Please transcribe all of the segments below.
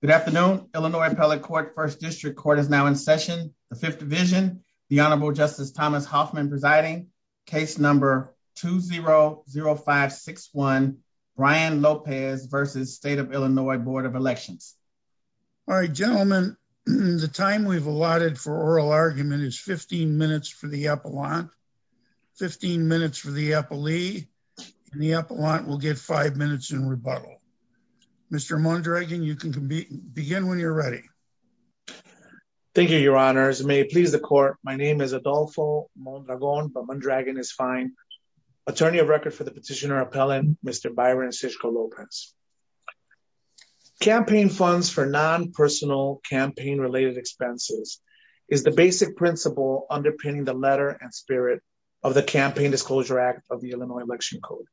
Good afternoon, Illinois Appellate Court, First District Court is now in session. The Fifth Division, the Honorable Justice Thomas Hoffman presiding. Case number 2-0-0561, Brian Lopez versus State of Illinois Board of Elections. All right, gentlemen, the time we've allotted for oral argument is 15 minutes for the appellant, 15 minutes for the appellee, and the appellant will get five minutes in rebuttal. Mr. Mondragon, you can begin when you're ready. Thank you, your honors. May it please the court, my name is Adolfo Mondragon, but Mondragon is fine. Attorney of record for the petitioner appellant, Mr. Byron Sischko-Lopez. Campaign funds for non-personal campaign-related expenses is the basic principle underpinning the letter and spirit of the Campaign Disclosure Act of the Illinois Election Code.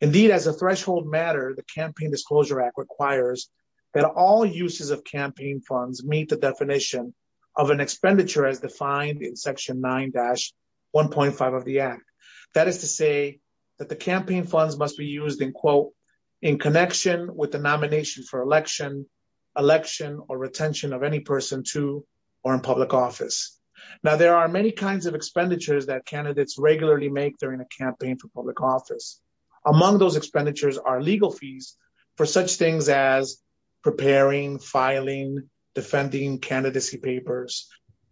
Indeed, as a threshold matter, the Campaign Disclosure Act requires that all uses of campaign funds meet the definition of an expenditure as defined in Section 9-1.5 of the Act. That is to say that the campaign funds must be used in quote, in connection with the nomination for election, election or retention of any person to or in public office. Now there are many kinds of expenditures that candidates regularly make during a campaign for public office. Among those expenditures are legal fees for such things as preparing, filing, defending candidacy papers,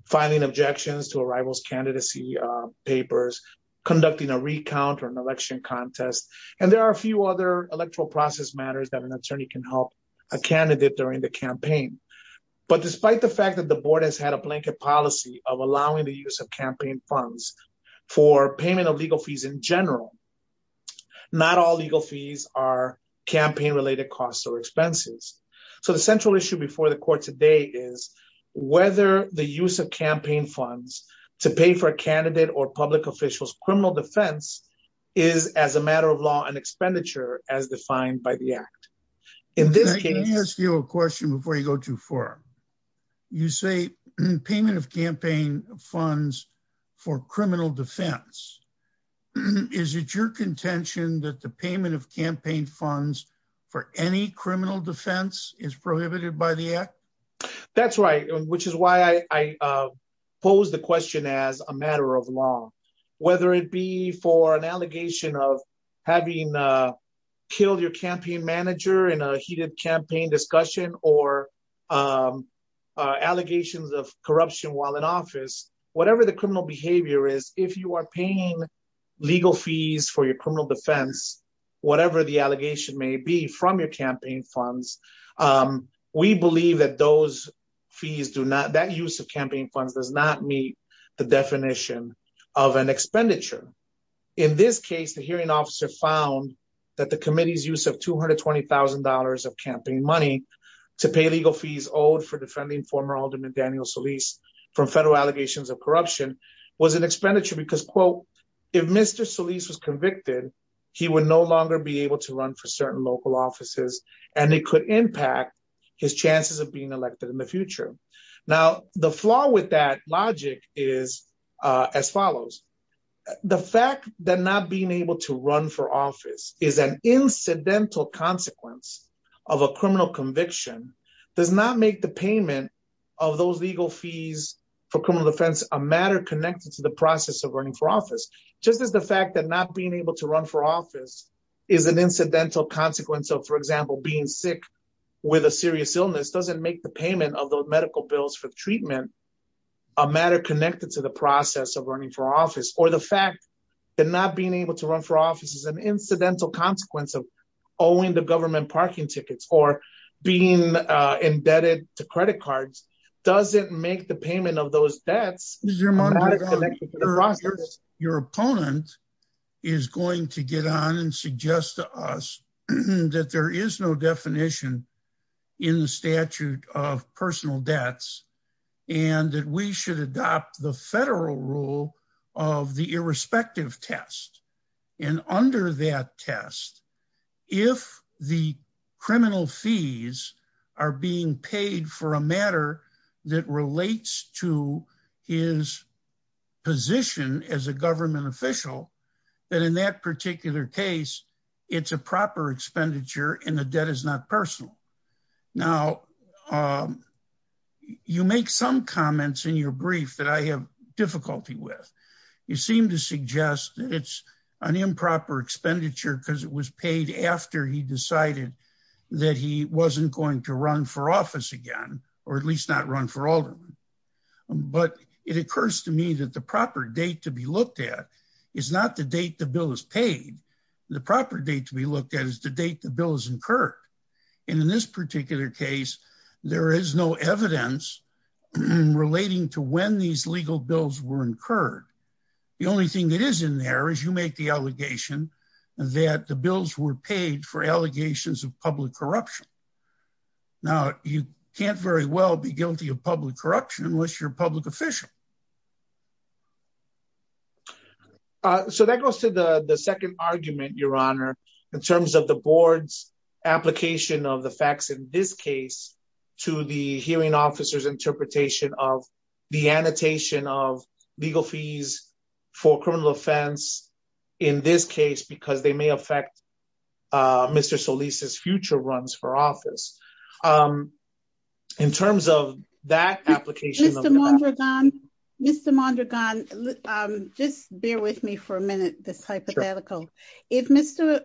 filing objections to a rival's candidacy papers, conducting a recount or an election contest, and there are a few other electoral process matters that an attorney can help a candidate during the campaign. But despite the fact that the Board has had a blanket policy of allowing the use of campaign funds for payment of legal fees in general, not all legal fees are campaign-related costs or expenses. So the central issue before the Court today is whether the use of campaign funds to pay for a candidate or public official's criminal defense is as a matter of law an expenditure as defined by the Act. Can I ask you a question before you go too far? You say payment of campaign funds for criminal defense. Is it your contention that the payment of campaign funds for any criminal defense is prohibited by the Act? That's right, which is why I pose the question as a kill your campaign manager in a heated campaign discussion or allegations of corruption while in office. Whatever the criminal behavior is, if you are paying legal fees for your criminal defense, whatever the allegation may be from your campaign funds, we believe that that use of campaign funds does not meet the definition of an expenditure. In this case, the hearing officer found that the committee's use of $220,000 of campaign money to pay legal fees owed for defending former Alderman Daniel Solis from federal allegations of corruption was an expenditure because, quote, if Mr. Solis was convicted, he would no longer be able to run for certain local offices and it could impact his chances of being elected in the future. The flaw with that logic is as follows. The fact that not being able to run for office is an incidental consequence of a criminal conviction does not make the payment of those legal fees for criminal defense a matter connected to the process of running for office. Just as the fact that not being able to run for office is an incidental consequence of, for example, being sick with a serious illness doesn't make the payment of those medical bills for treatment a matter connected to the process of running for office, or the fact that not being able to run for office is an incidental consequence of owing the government parking tickets or being indebted to credit cards doesn't make the payment of those debts a matter connected to the process. Your opponent is going to get on and suggest to us that there is no definition in the statute of personal debts and that we should adopt the federal rule of the irrespective test. And under that test, if the criminal fees are being paid for a matter that relates to his position as a government official, then in that particular case, it's a proper expenditure and the debt is not personal. Now, you make some comments in your brief that I have difficulty with. You seem to suggest that it's an improper expenditure because it was paid after he decided that he wasn't going to run for office again, or at least not run for alderman. But it occurs to me that the proper date to be looked at is not the date the bill is paid. The proper date to be looked at is the date the bill is incurred. And in this particular case, there is no evidence relating to when these legal bills were incurred. The only thing that is in there is you make the allegation that the bills were paid for allegations of public corruption. Now, you can't very well be public corruption unless you're public official. So that goes to the second argument, Your Honor, in terms of the board's application of the facts in this case, to the hearing officers interpretation of the annotation of legal fees for criminal offense in this case, because they may affect Mr. Solis's future runs for office. In terms of that application of the facts. Mr. Mondragon, just bear with me for a minute, this hypothetical. If Mr.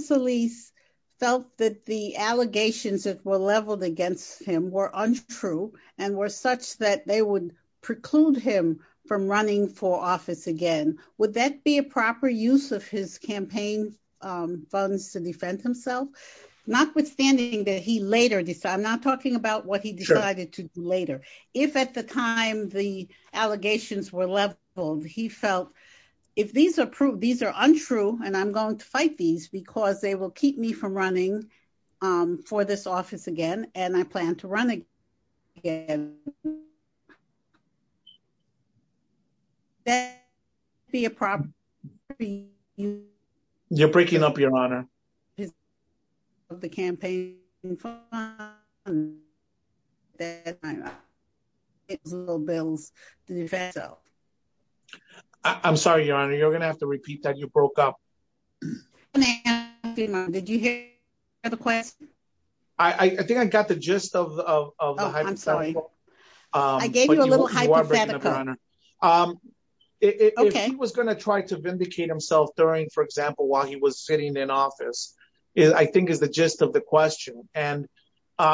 Solis felt that the allegations that were leveled against him were untrue and were such that they would preclude him from running for office again, would that be a proper use of his campaign funds to defend himself? Notwithstanding that he later decided, I'm not talking about what decided to do later. If at the time the allegations were leveled, he felt, if these are untrue, and I'm going to fight these because they will keep me from running for this office again, and I plan to run again, would that be a proper use of his campaign funds? I'm sorry, Your Honor, you're going to have to repeat that. You broke up. Did you hear the question? I think I got the gist of the hypothetical. I gave you a little hypothetical. If he was going to try to vindicate himself during, for example, while he was sitting in office, I think is the gist of the question. And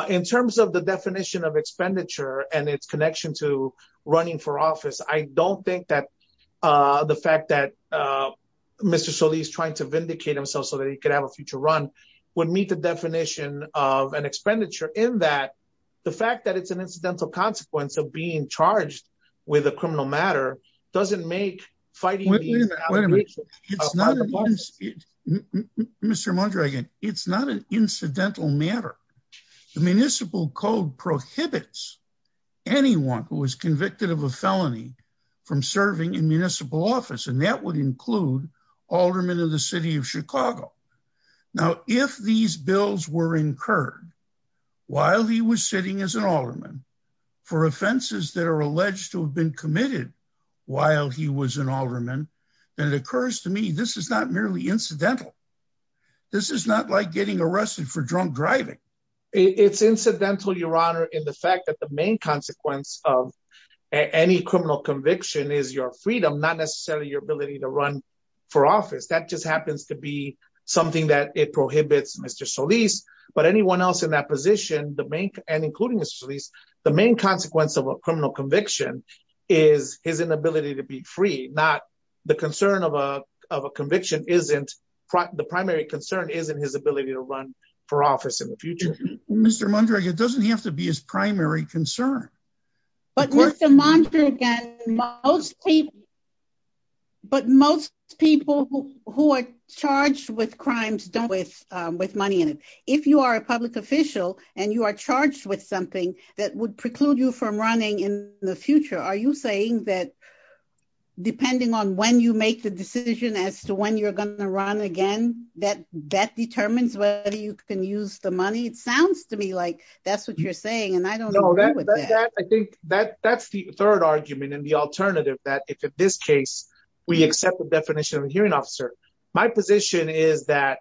in terms of the definition of expenditure and its connection to running for office, I don't think that the fact that Mr. Solis trying to vindicate himself so that he could have a future run would meet the definition of an expenditure in that the fact that it's an incidental consequence of being charged with a criminal matter doesn't make fighting these matter. The municipal code prohibits anyone who is convicted of a felony from serving in municipal office, and that would include aldermen of the city of Chicago. Now, if these bills were incurred while he was sitting as an alderman for offenses that are alleged to have been committed while he was an alderman, then it occurs to me this is not merely incidental. This is not like getting arrested for drunk driving. It's incidental, Your Honor, in the fact that the main consequence of any criminal conviction is your freedom, not necessarily your ability to run for office. That just happens to be something that it prohibits Mr. Solis, but anyone else in that position, the main and including Mr. Solis, the main consequence of a criminal conviction is his inability to be free, not the concern of a is in his ability to run for office in the future. Mr. Mondragon, it doesn't have to be his primary concern. But Mr. Mondragon, most people, but most people who are charged with crimes don't with money in it. If you are a public official and you are charged with something that would preclude you from running in the future, are you saying that depending on when you make the decision as to when you're going to run again, that that determines whether you can use the money? It sounds to me like that's what you're saying. And I don't know. I think that that's the third argument and the alternative that if in this case, we accept the definition of a hearing officer, my position is that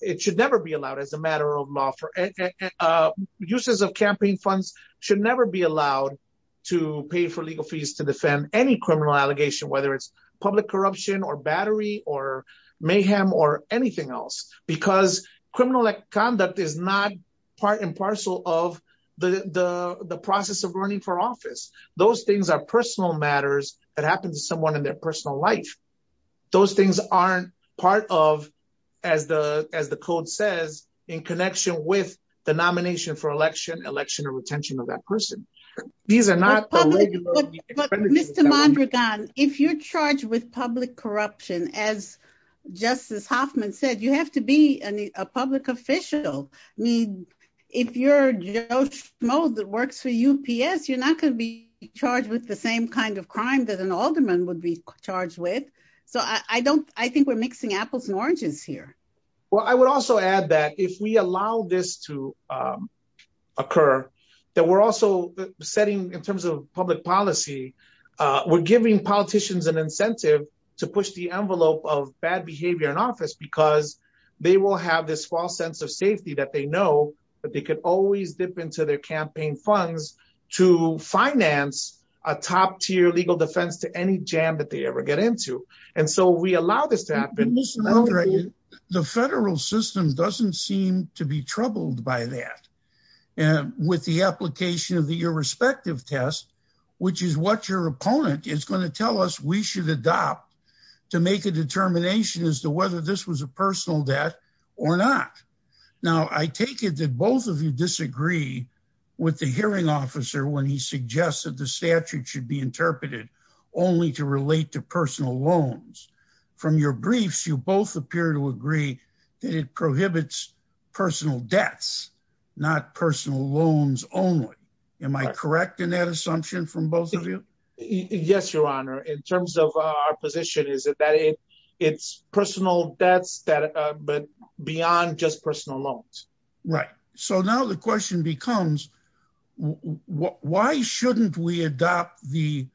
it should never be allowed as a matter of law for uses of campaign funds should never be allowed to pay for legal fees to defend any criminal allegation, whether it's public corruption or battery or mayhem or anything else, because criminal conduct is not part and parcel of the process of running for office. Those things are personal matters that happen to someone in their personal life. Those things aren't part of, as the as the code says, in connection with the nomination for election, election or retention of that person. These are not public. Mr. Mondragon, if you're charged with public corruption, as Justice Hoffman said, you have to be a public official. I mean, if you're that works for UPS, you're not going to be charged with the same kind of crime that an alderman would be charged with. So I don't I think we're mixing apples and oranges here. Well, I would also add that if we allow this to occur, that we're also setting in terms of public policy, we're giving politicians an incentive to push the envelope of bad behavior in office because they will have this false sense of safety that they know that they could always dip into their campaign funds to finance a top tier legal defense to any jam that they ever get into. And so we allow this to happen. Mr. Mondragon, the federal system doesn't seem to be troubled by that with the application of the irrespective test, which is what your opponent is going to tell us we should adopt to make a determination as to whether this was a personal debt or not. Now, I take it that both of you disagree with the hearing officer when he suggests that the statute should be interpreted only to relate to personal loans from your briefs. You both appear to agree that it prohibits personal debts, not personal loans only. Am I correct in that assumption from both of you? Yes, your honor. In terms of our position, is it that it's personal debts that but beyond just personal loans? Right. So now the question becomes, why shouldn't we adopt the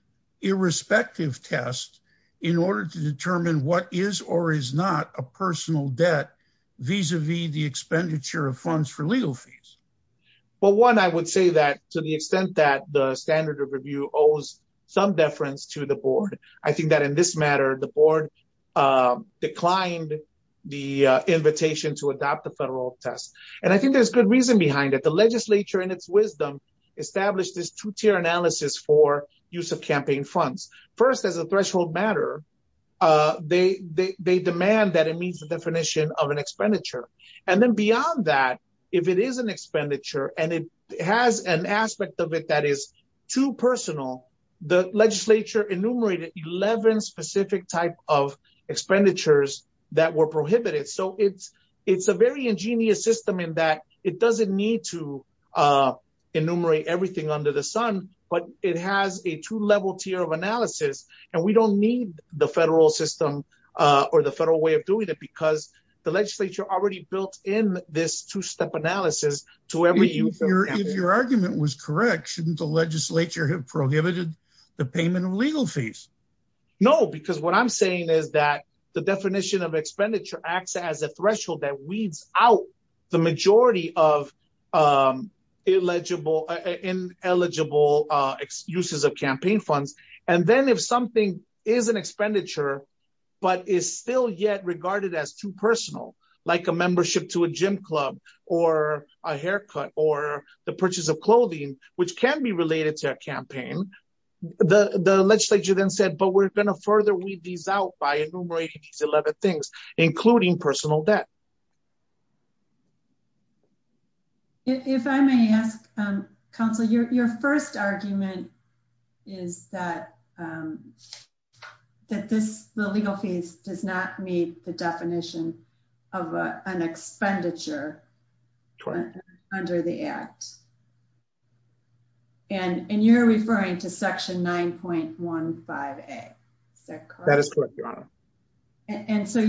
irrespective test in order to determine what is or is not a personal debt vis-a-vis the expenditure of funds for legal fees? Well, one, I would say that to the extent that the standard of review owes some deference to the board, I think that in this matter, the board declined the invitation to adopt the federal test. And I think there's good reason behind it. The legislature, in its wisdom, established this two-tier analysis for use of campaign funds. First, as a threshold matter, they demand that it meets the definition of an expenditure. And then beyond that, if it is an expenditure and it has an aspect of it that is too personal, the legislature enumerated 11 specific type of expenditures that were prohibited. So it's a very ingenious system in that it doesn't need to enumerate everything under the sun, but it has a two-level tier of analysis. And we don't need the federal system or the federal way of doing it because the legislature already built in this two-step analysis to every use. If your argument was correct, shouldn't the legislature have prohibited the payment of legal fees? No, because what I'm saying is that the definition of expenditure acts as a threshold that weeds out the majority of ineligible uses of campaign funds. And then if something is an expenditure, but is still yet regarded as too personal, like a membership to a gym club or a haircut or the of clothing, which can be related to a campaign, the legislature then said, but we're going to further weed these out by enumerating these 11 things, including personal debt. If I may ask, counsel, your first argument is that the legal fees does not meet the definition of an expenditure under the act. And you're referring to section 9.15A, is that correct? That is correct, your honor. And so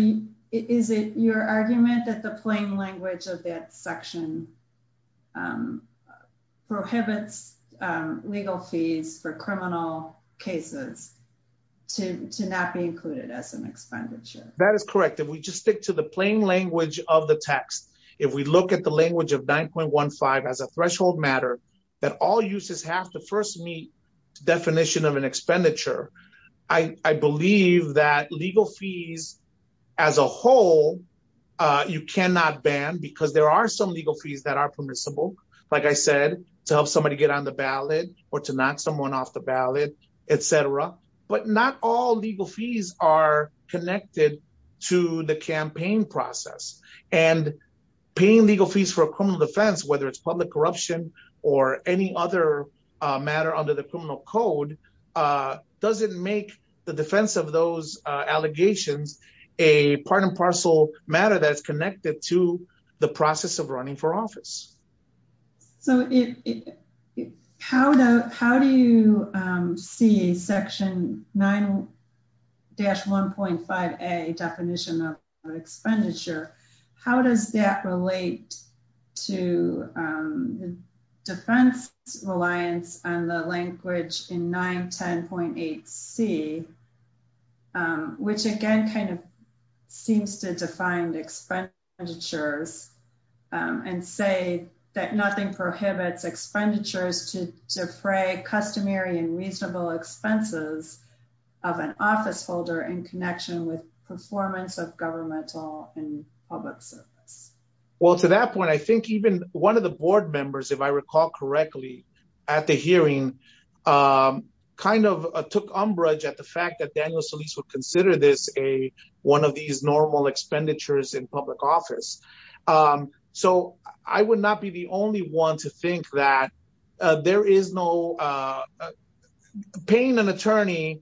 is it your argument that the plain language of that section prohibits legal fees for criminal cases to not be included as an expenditure? That is correct. If we just stick to the plain language of the text, if we look at the language of 9.15 as a threshold matter, that all uses have to first meet the definition of an expenditure. I believe that legal fees as a whole, you cannot ban because there are some legal fees that are permissible. Like I said, to help somebody get on the ballot or to knock someone off the ballot, et cetera. But not all legal fees are connected to the campaign process. And paying legal fees for a criminal defense, whether it's public corruption or any other matter under the criminal code, doesn't make the defense of those allegations a part and parcel matter that's section 9-1.5A definition of expenditure. How does that relate to defense reliance on the language in 910.8C, which again kind of seems to define expenditures and say that nothing prohibits expenditures to defray customary and reasonable expenses of an officeholder in connection with performance of governmental and public service? Well, to that point, I think even one of the board members, if I recall correctly, at the hearing kind of took umbrage at the fact that Daniel Solis would consider this one of these normal expenditures in public office. So I would not be the only one to think that there is no... Paying an attorney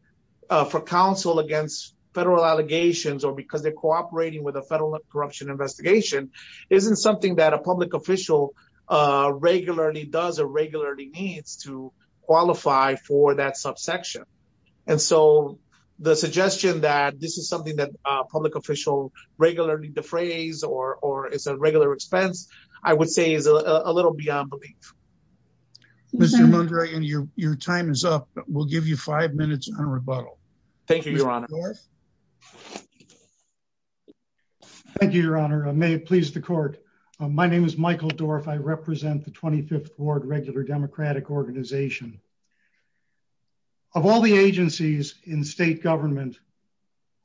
for counsel against federal allegations or because they're cooperating with a federal corruption investigation isn't something that a public official regularly does or regularly needs to qualify for that subsection. And so the suggestion that this is something that a public official regularly defrays or is a regular expense, I would say is a little beyond belief. Mr. Mondragon, your time is up. We'll give you five minutes on rebuttal. Thank you, Your Honor. Thank you, Your Honor. May it please the court. My name is Michael Dorff. I represent the 25th Ward Regular Democratic Organization. Of all the agencies in state government,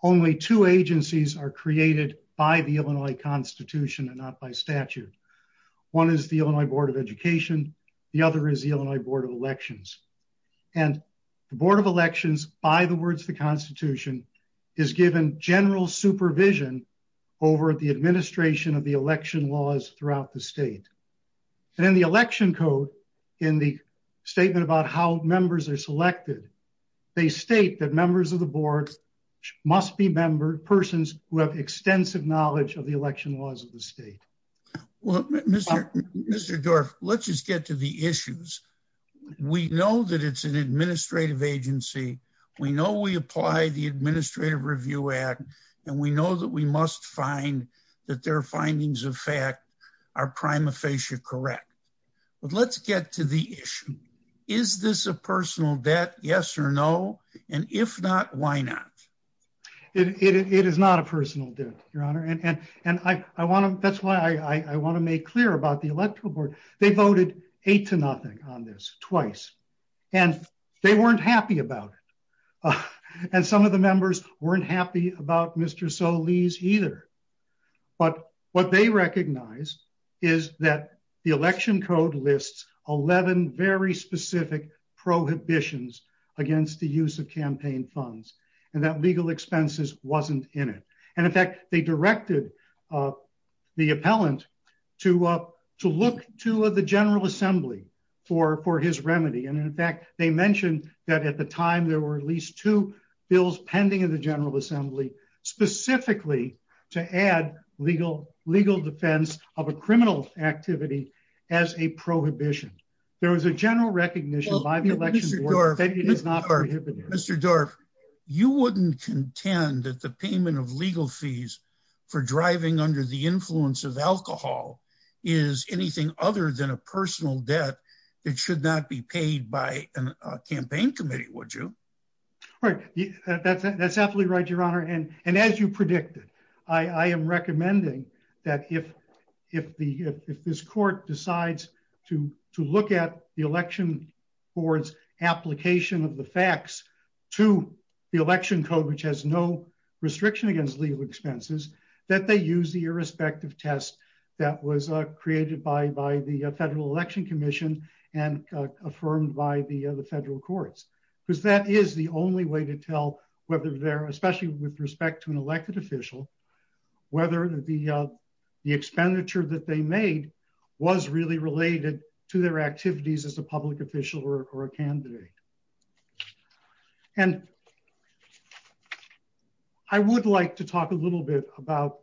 only two agencies are created by the Illinois Constitution and not by statute. One is the Illinois Board of Education. The other is the Illinois Board of Elections. And the Board of Elections, by the words of the Constitution, is given general supervision over the administration of the election laws throughout the state. And in the election code, in the statement about how members are selected, they state that members of the board must be persons who have extensive knowledge of the election laws of the state. Well, Mr. Dorff, let's just get to the issues. We know that it's an administrative agency. We know we apply the Administrative Review Act, and we know that we must find that their findings of fact are prima facie correct. But let's get to the issue. Is this a personal debt, yes or no? And if not, why not? It is not a personal debt, Your Honor. And that's why I want to make clear about the Electoral Board. They voted eight to nothing on this, twice. And they weren't happy about it. And some of the members weren't happy about Mr. Solis either. But what they recognize is that the election code lists 11 very specific prohibitions against the use of campaign funds, and that legal expenses wasn't in it. And in fact, they directed the appellant to look to the General Assembly for his remedy. And in fact, they mentioned that at the to add legal defense of a criminal activity as a prohibition. There was a general recognition by the Election Board that it is not prohibited. Mr. Dorff, you wouldn't contend that the payment of legal fees for driving under the influence of alcohol is anything other than a personal debt that should not be paid by a campaign committee, would you? Right. That's absolutely right, Your Honor. And as you predicted, I am recommending that if this court decides to look at the Election Board's application of the facts to the election code, which has no restriction against legal expenses, that they use the irrespective test that was created by the Federal Election Commission and affirmed by the federal courts. Because that is the only way to with respect to an elected official, whether the expenditure that they made was really related to their activities as a public official or a candidate. And I would like to talk a little bit about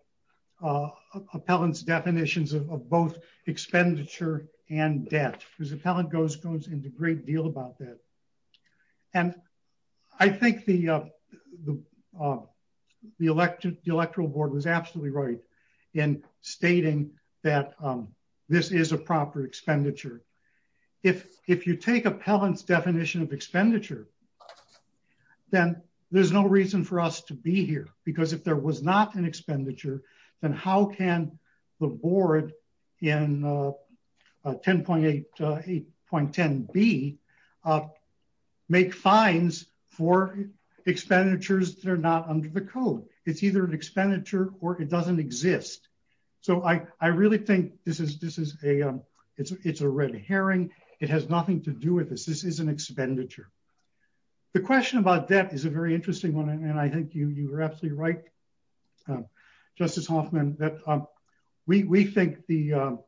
appellant's definitions of both expenditure and debt, because the appellant goes into a great deal about that. And I think the Electoral Board was absolutely right in stating that this is a proper expenditure. If you take appellant's definition of expenditure, then there's no reason for us to be here. Because if there was not an expenditure, then how can the board in 10.8.10b make fines for expenditures that are not under the code? It's either an expenditure or it doesn't exist. So I really think this is a red herring. It has nothing to do with this. This is an expenditure. The question about debt is a very that we think the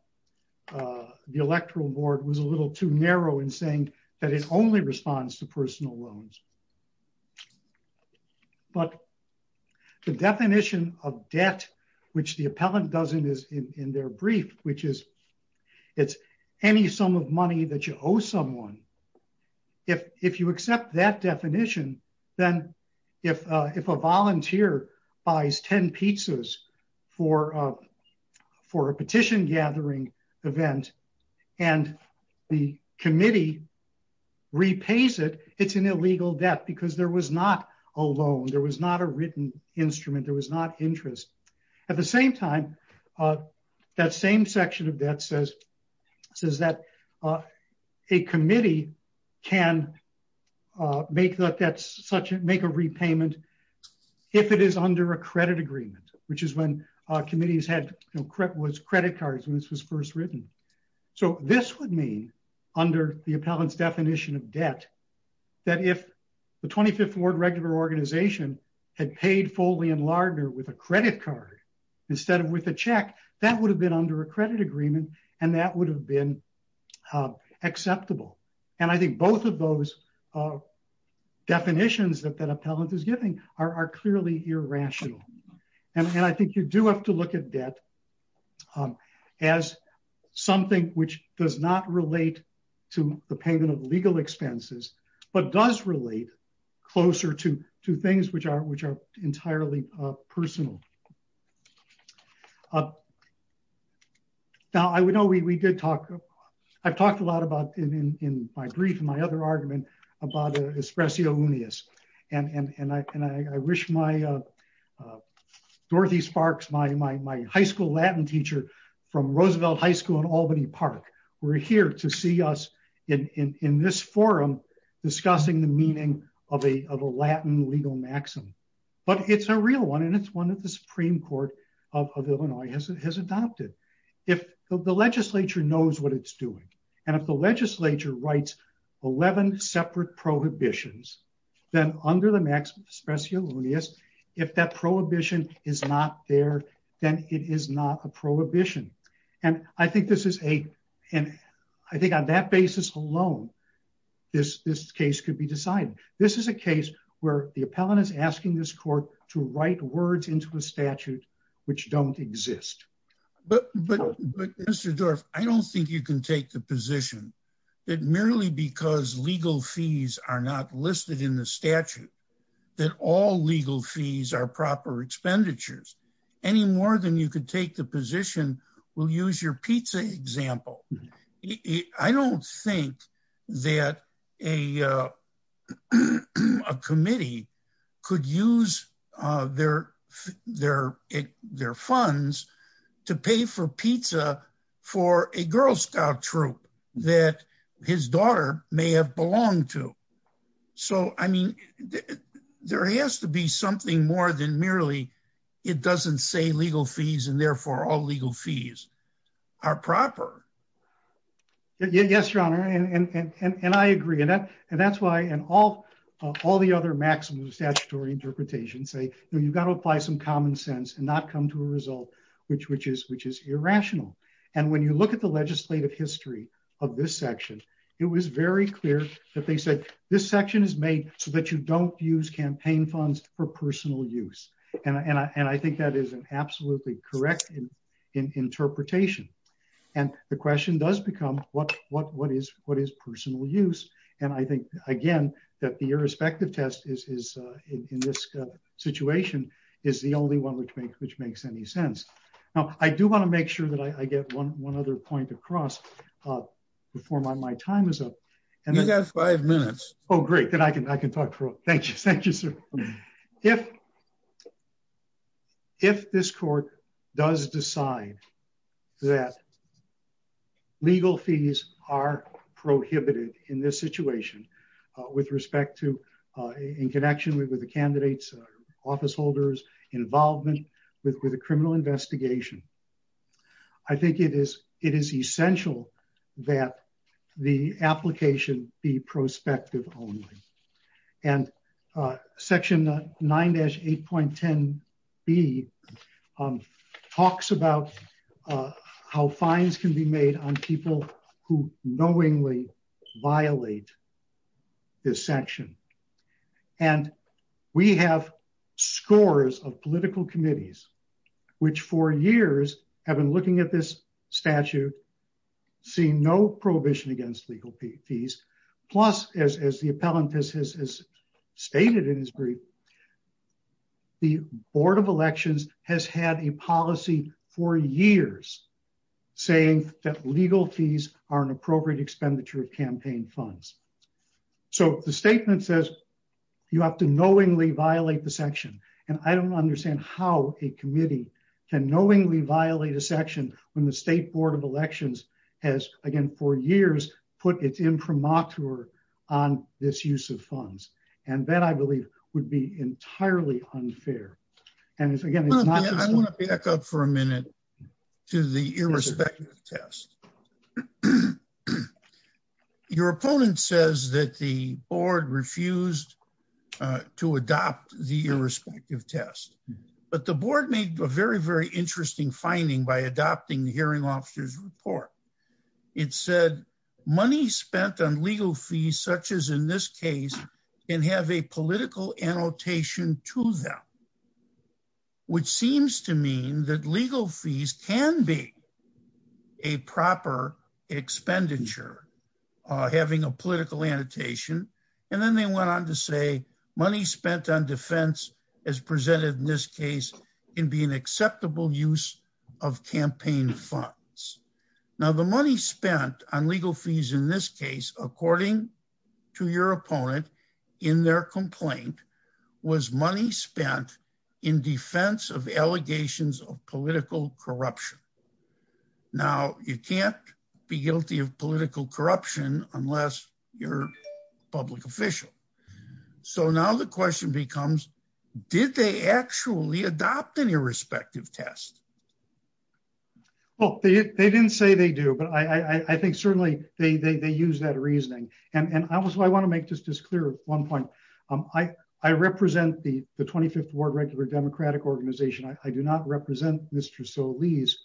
Electoral Board was a little too narrow in saying that it only responds to personal loans. But the definition of debt, which the appellant doesn't is in their brief, which is it's any sum of money that you owe someone. If you accept that definition, then if a volunteer buys 10 pizzas for a petition gathering event, and the committee repays it, it's an illegal debt because there was not a loan. There was not a written instrument. There was not interest. At the same time, that same section of debt says that a committee can make a repayment if it is under a credit agreement, which is when committees had credit cards when this was first written. So this would mean under the appellant's definition of debt, that if the 25th Ward Regular Organization had paid Foley and Lardner with a credit card instead of with a check, that would have been under a credit agreement, and that would have been acceptable. And I think both of those definitions that that appellant is giving are clearly irrational. And I think you do have to look at debt as something which does not relate to the payment of legal expenses, but does relate closer to things which are entirely personal. Now, I would know we did talk, I've talked a lot about in my brief, in my other argument, about Espresso Unius. And I wish my Dorothy Sparks, my high school Latin teacher from Roosevelt High School in Albany Park, were here to see us in this forum discussing the meaning of a Latin legal maxim. But it's a real one, and it's one that the Supreme Court of Illinois has adopted. If the legislature knows what it's doing, and if the legislature writes 11 separate prohibitions, then under the maxim of Espresso Unius, if that prohibition is not there, then it is not a prohibition. And I think this is a, and I think on that basis alone, this case could be decided. This is a case where the appellant is asking this court to write words into a statute which don't exist. But Mr. Dorff, I don't think you can take the position that merely because legal fees are not listed in the statute, that all legal fees are proper expenditures, any more than you could take the position, we'll use your pizza example. I don't think that a a committee could use their, their, their funds to pay for pizza for a Girl Scout troop that his daughter may have belonged to. So I mean, there has to be something more than merely it doesn't say legal fees, and therefore all legal fees are proper. Yes, Your Honor, and I agree, and that's why, and all the other maxims of statutory interpretation say, you've got to apply some common sense and not come to a result which is irrational. And when you look at the legislative history of this section, it was very clear that they said, this section is made so that you don't use campaign funds for personal use. And I think that is an absolutely correct interpretation. And the question does become what, what, what is what is personal use. And I think, again, that the irrespective test is, is in this situation is the only one which makes which makes any sense. Now, I do want to make sure that I get one one other point across before my time is up. And I got five minutes. Oh, great. Then I can I can talk for Thank you. Thank you, sir. If if this court does decide that legal fees are prohibited in this situation, with respect to in connection with the candidates, officeholders involvement with the criminal investigation, I think it is it is essential that the application be prospective only. And section nine dash 8.10 b talks about how fines can be made on people who knowingly violate this section. And we have scores of political committees, which for years have been looking at this statute, seeing no prohibition against legal fees. Plus, as the appellant has stated in his brief, the Board of Elections has had a policy for years, saying that legal fees are an appropriate expenditure of campaign funds. So the statement says you have to knowingly violate the section. And I don't understand how a committee can knowingly violate a section when the State Board of Elections has, again, for years, put its imprimatur on this use of funds. And that, I believe, would be entirely unfair. And again, I want to back up for a minute to the irrespective test. Your opponent says that the board refused to adopt the irrespective test, but the board made a very, very interesting finding by adopting the hearing officer's report. It said money spent on legal fees, such as in this case, can have a political annotation to them, which seems to mean that legal fees can be a proper expenditure, having a political annotation. And then they went on to say money spent on defense, as presented in this case, can be an acceptable use of campaign funds. Now, the money spent on legal fees in this case, according to your opponent, in their complaint, was money spent in defense of allegations of political corruption. Now, you can't be guilty of political corruption unless you're a public official. So now the question becomes, did they actually adopt an irrespective test? Well, they didn't say they do, but I think certainly they use that reasoning. And I want to make just as clear one point. I represent the 25th Ward Regular Democratic Organization. I do not represent Mr. Solis.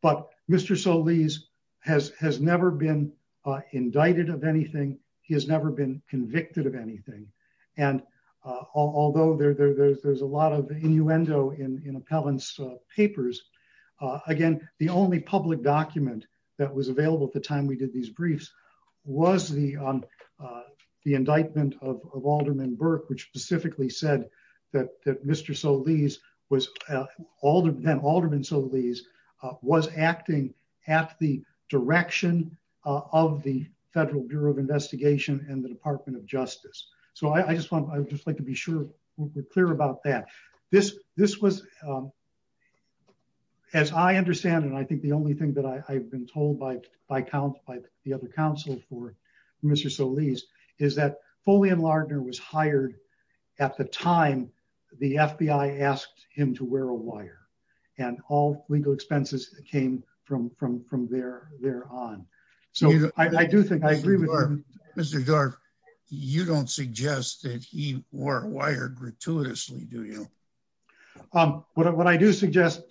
But Mr. Solis has never been indicted of anything. He has never been indicted. Again, the only public document that was available at the time we did these briefs was the indictment of Alderman Burke, which specifically said that Alderman Solis was acting at the direction of the Federal Bureau of Investigation and the Department of Justice. So I would just like to be sure we're clear about that. This was, as I understand, and I think the only thing that I've been told by the other counsel for Mr. Solis, is that Foley and Lardner was hired at the time the FBI asked him to wear a wire and all legal that he wore a wire gratuitously, do you? What I do suggest,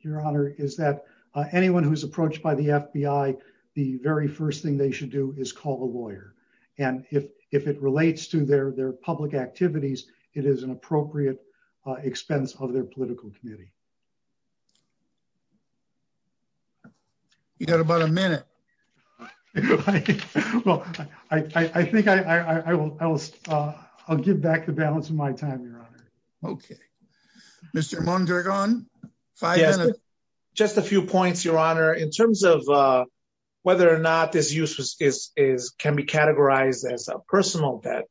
Your Honor, is that anyone who's approached by the FBI, the very first thing they should do is call the lawyer. And if it relates to their public activities, it is an appropriate expense of their political committee. You got about a minute. All right. Well, I think I'll give back the balance of my time, Your Honor. Okay. Mr. Mondragon. Just a few points, Your Honor. In terms of whether or not this use can be categorized as a personal debt,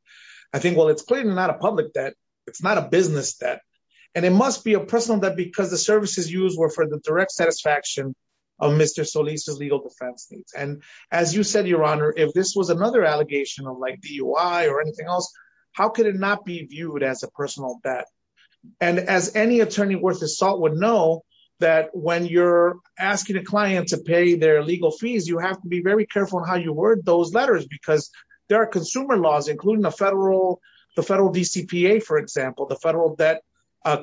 I think, well, it's clearly not a public debt. It's not a business debt. And it must be a personal debt because the services used were for the direct satisfaction of Mr. Solis' legal defense needs. And as you said, Your Honor, if this was another allegation of DUI or anything else, how could it not be viewed as a personal debt? And as any attorney worth his salt would know, that when you're asking a client to pay their legal fees, you have to be very careful in how you word those letters because there are consumer laws, including the federal DCPA, for example, the Federal Debt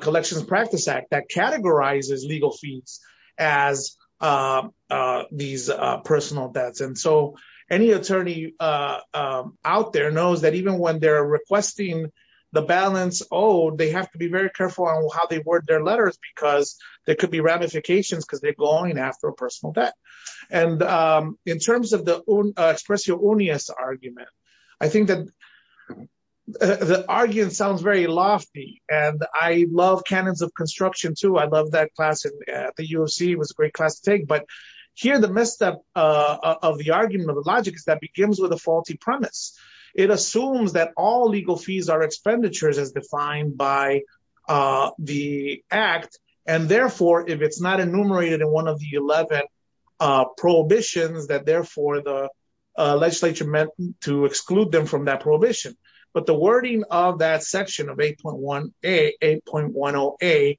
Collections Practice Act that categorizes legal fees as these personal debts. And so any attorney out there knows that even when they're requesting the balance owed, they have to be very careful on how they word their letters because there could be ramifications because they're going after a personal debt. And in terms of the expressio unius argument, I think that the argument sounds very lofty. And I love canons of construction, too. I love that class at the UFC. It was a great class to take. But here, the misstep of the argument of the logic is that begins with a faulty premise. It assumes that all legal fees are expenditures as defined by the Act. And therefore, if it's not enumerated in one of the 11 prohibitions, that therefore the legislature meant to exclude them from that prohibition. But the wording of that section of 8.10a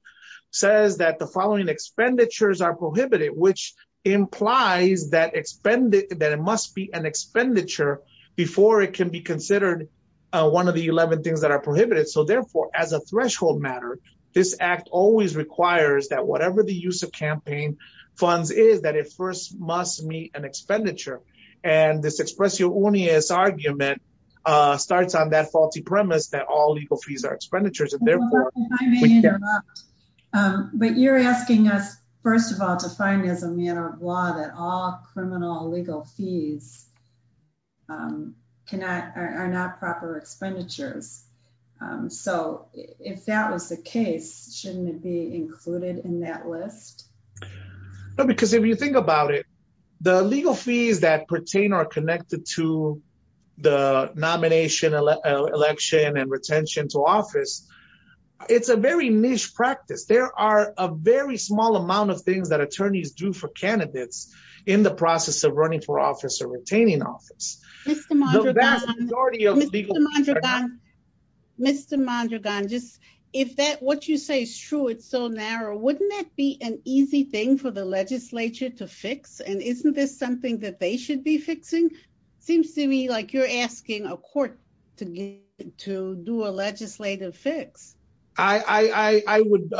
says that the following expenditures are prohibited, which implies that it must be an expenditure before it can be considered one of the 11 things that are prohibited. So therefore, as a threshold matter, this Act always requires that whatever the use of campaign funds is, that it first must meet an expenditure. And this expressio unius argument starts on that faulty premise that all legal fees are expenditures. But you're asking us, first of all, to find as a matter of law that all criminal legal fees are not proper expenditures. So if that was the case, shouldn't it be included in that list? No, because if you think about it, the legal fees that pertain are connected to the nomination, election and retention to office. It's a very niche practice. There are a very small amount of things that attorneys do for candidates in the process of running for office or retaining office. Mr. Mondragon, if what you say is true, it's so narrow, wouldn't that be an easy thing for the legislature to fix? And isn't this something that they should be fixing? Seems to me like you're asking a court to do a legislative fix. I would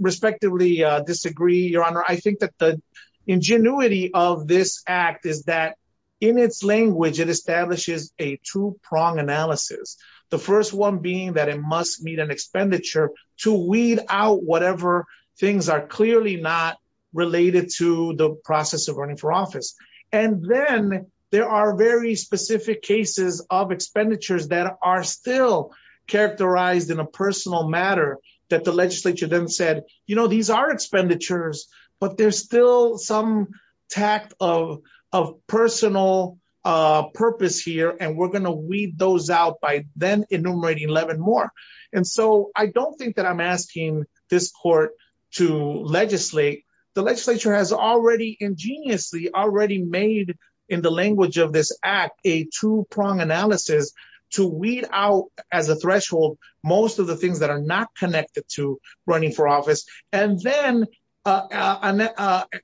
respectfully disagree, Your Honor. I think that the ingenuity of this act is that in its language, it establishes a two-prong analysis. The first one being that it must meet an expenditure to weed out whatever things are clearly not related to the process of running for office. And then there are very specific cases of expenditures that are still characterized in a personal matter that the legislature then said, you know, these are expenditures, but there's still some tact of personal purpose here, and we're going to weed those out by then enumerating 11 more. And so I don't think that I'm asking this court to legislate. The legislature has already ingeniously, already made in the language of this act, a two-prong analysis to weed out as a threshold, most of the things that are not connected to running for office, and then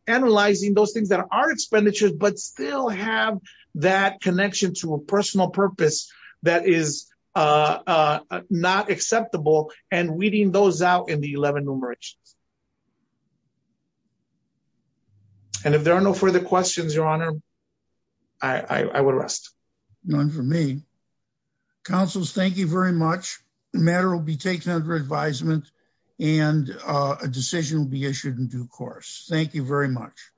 analyzing those things that are expenditures, but still have that connection to a personal purpose that is not acceptable, and weeding those out in the 11 numerations. And if there are no further questions, Your Honor, I would rest. None for me. Counsels, thank you very much. The matter will be taken under advisement and a decision will be issued in due course. Thank you very much.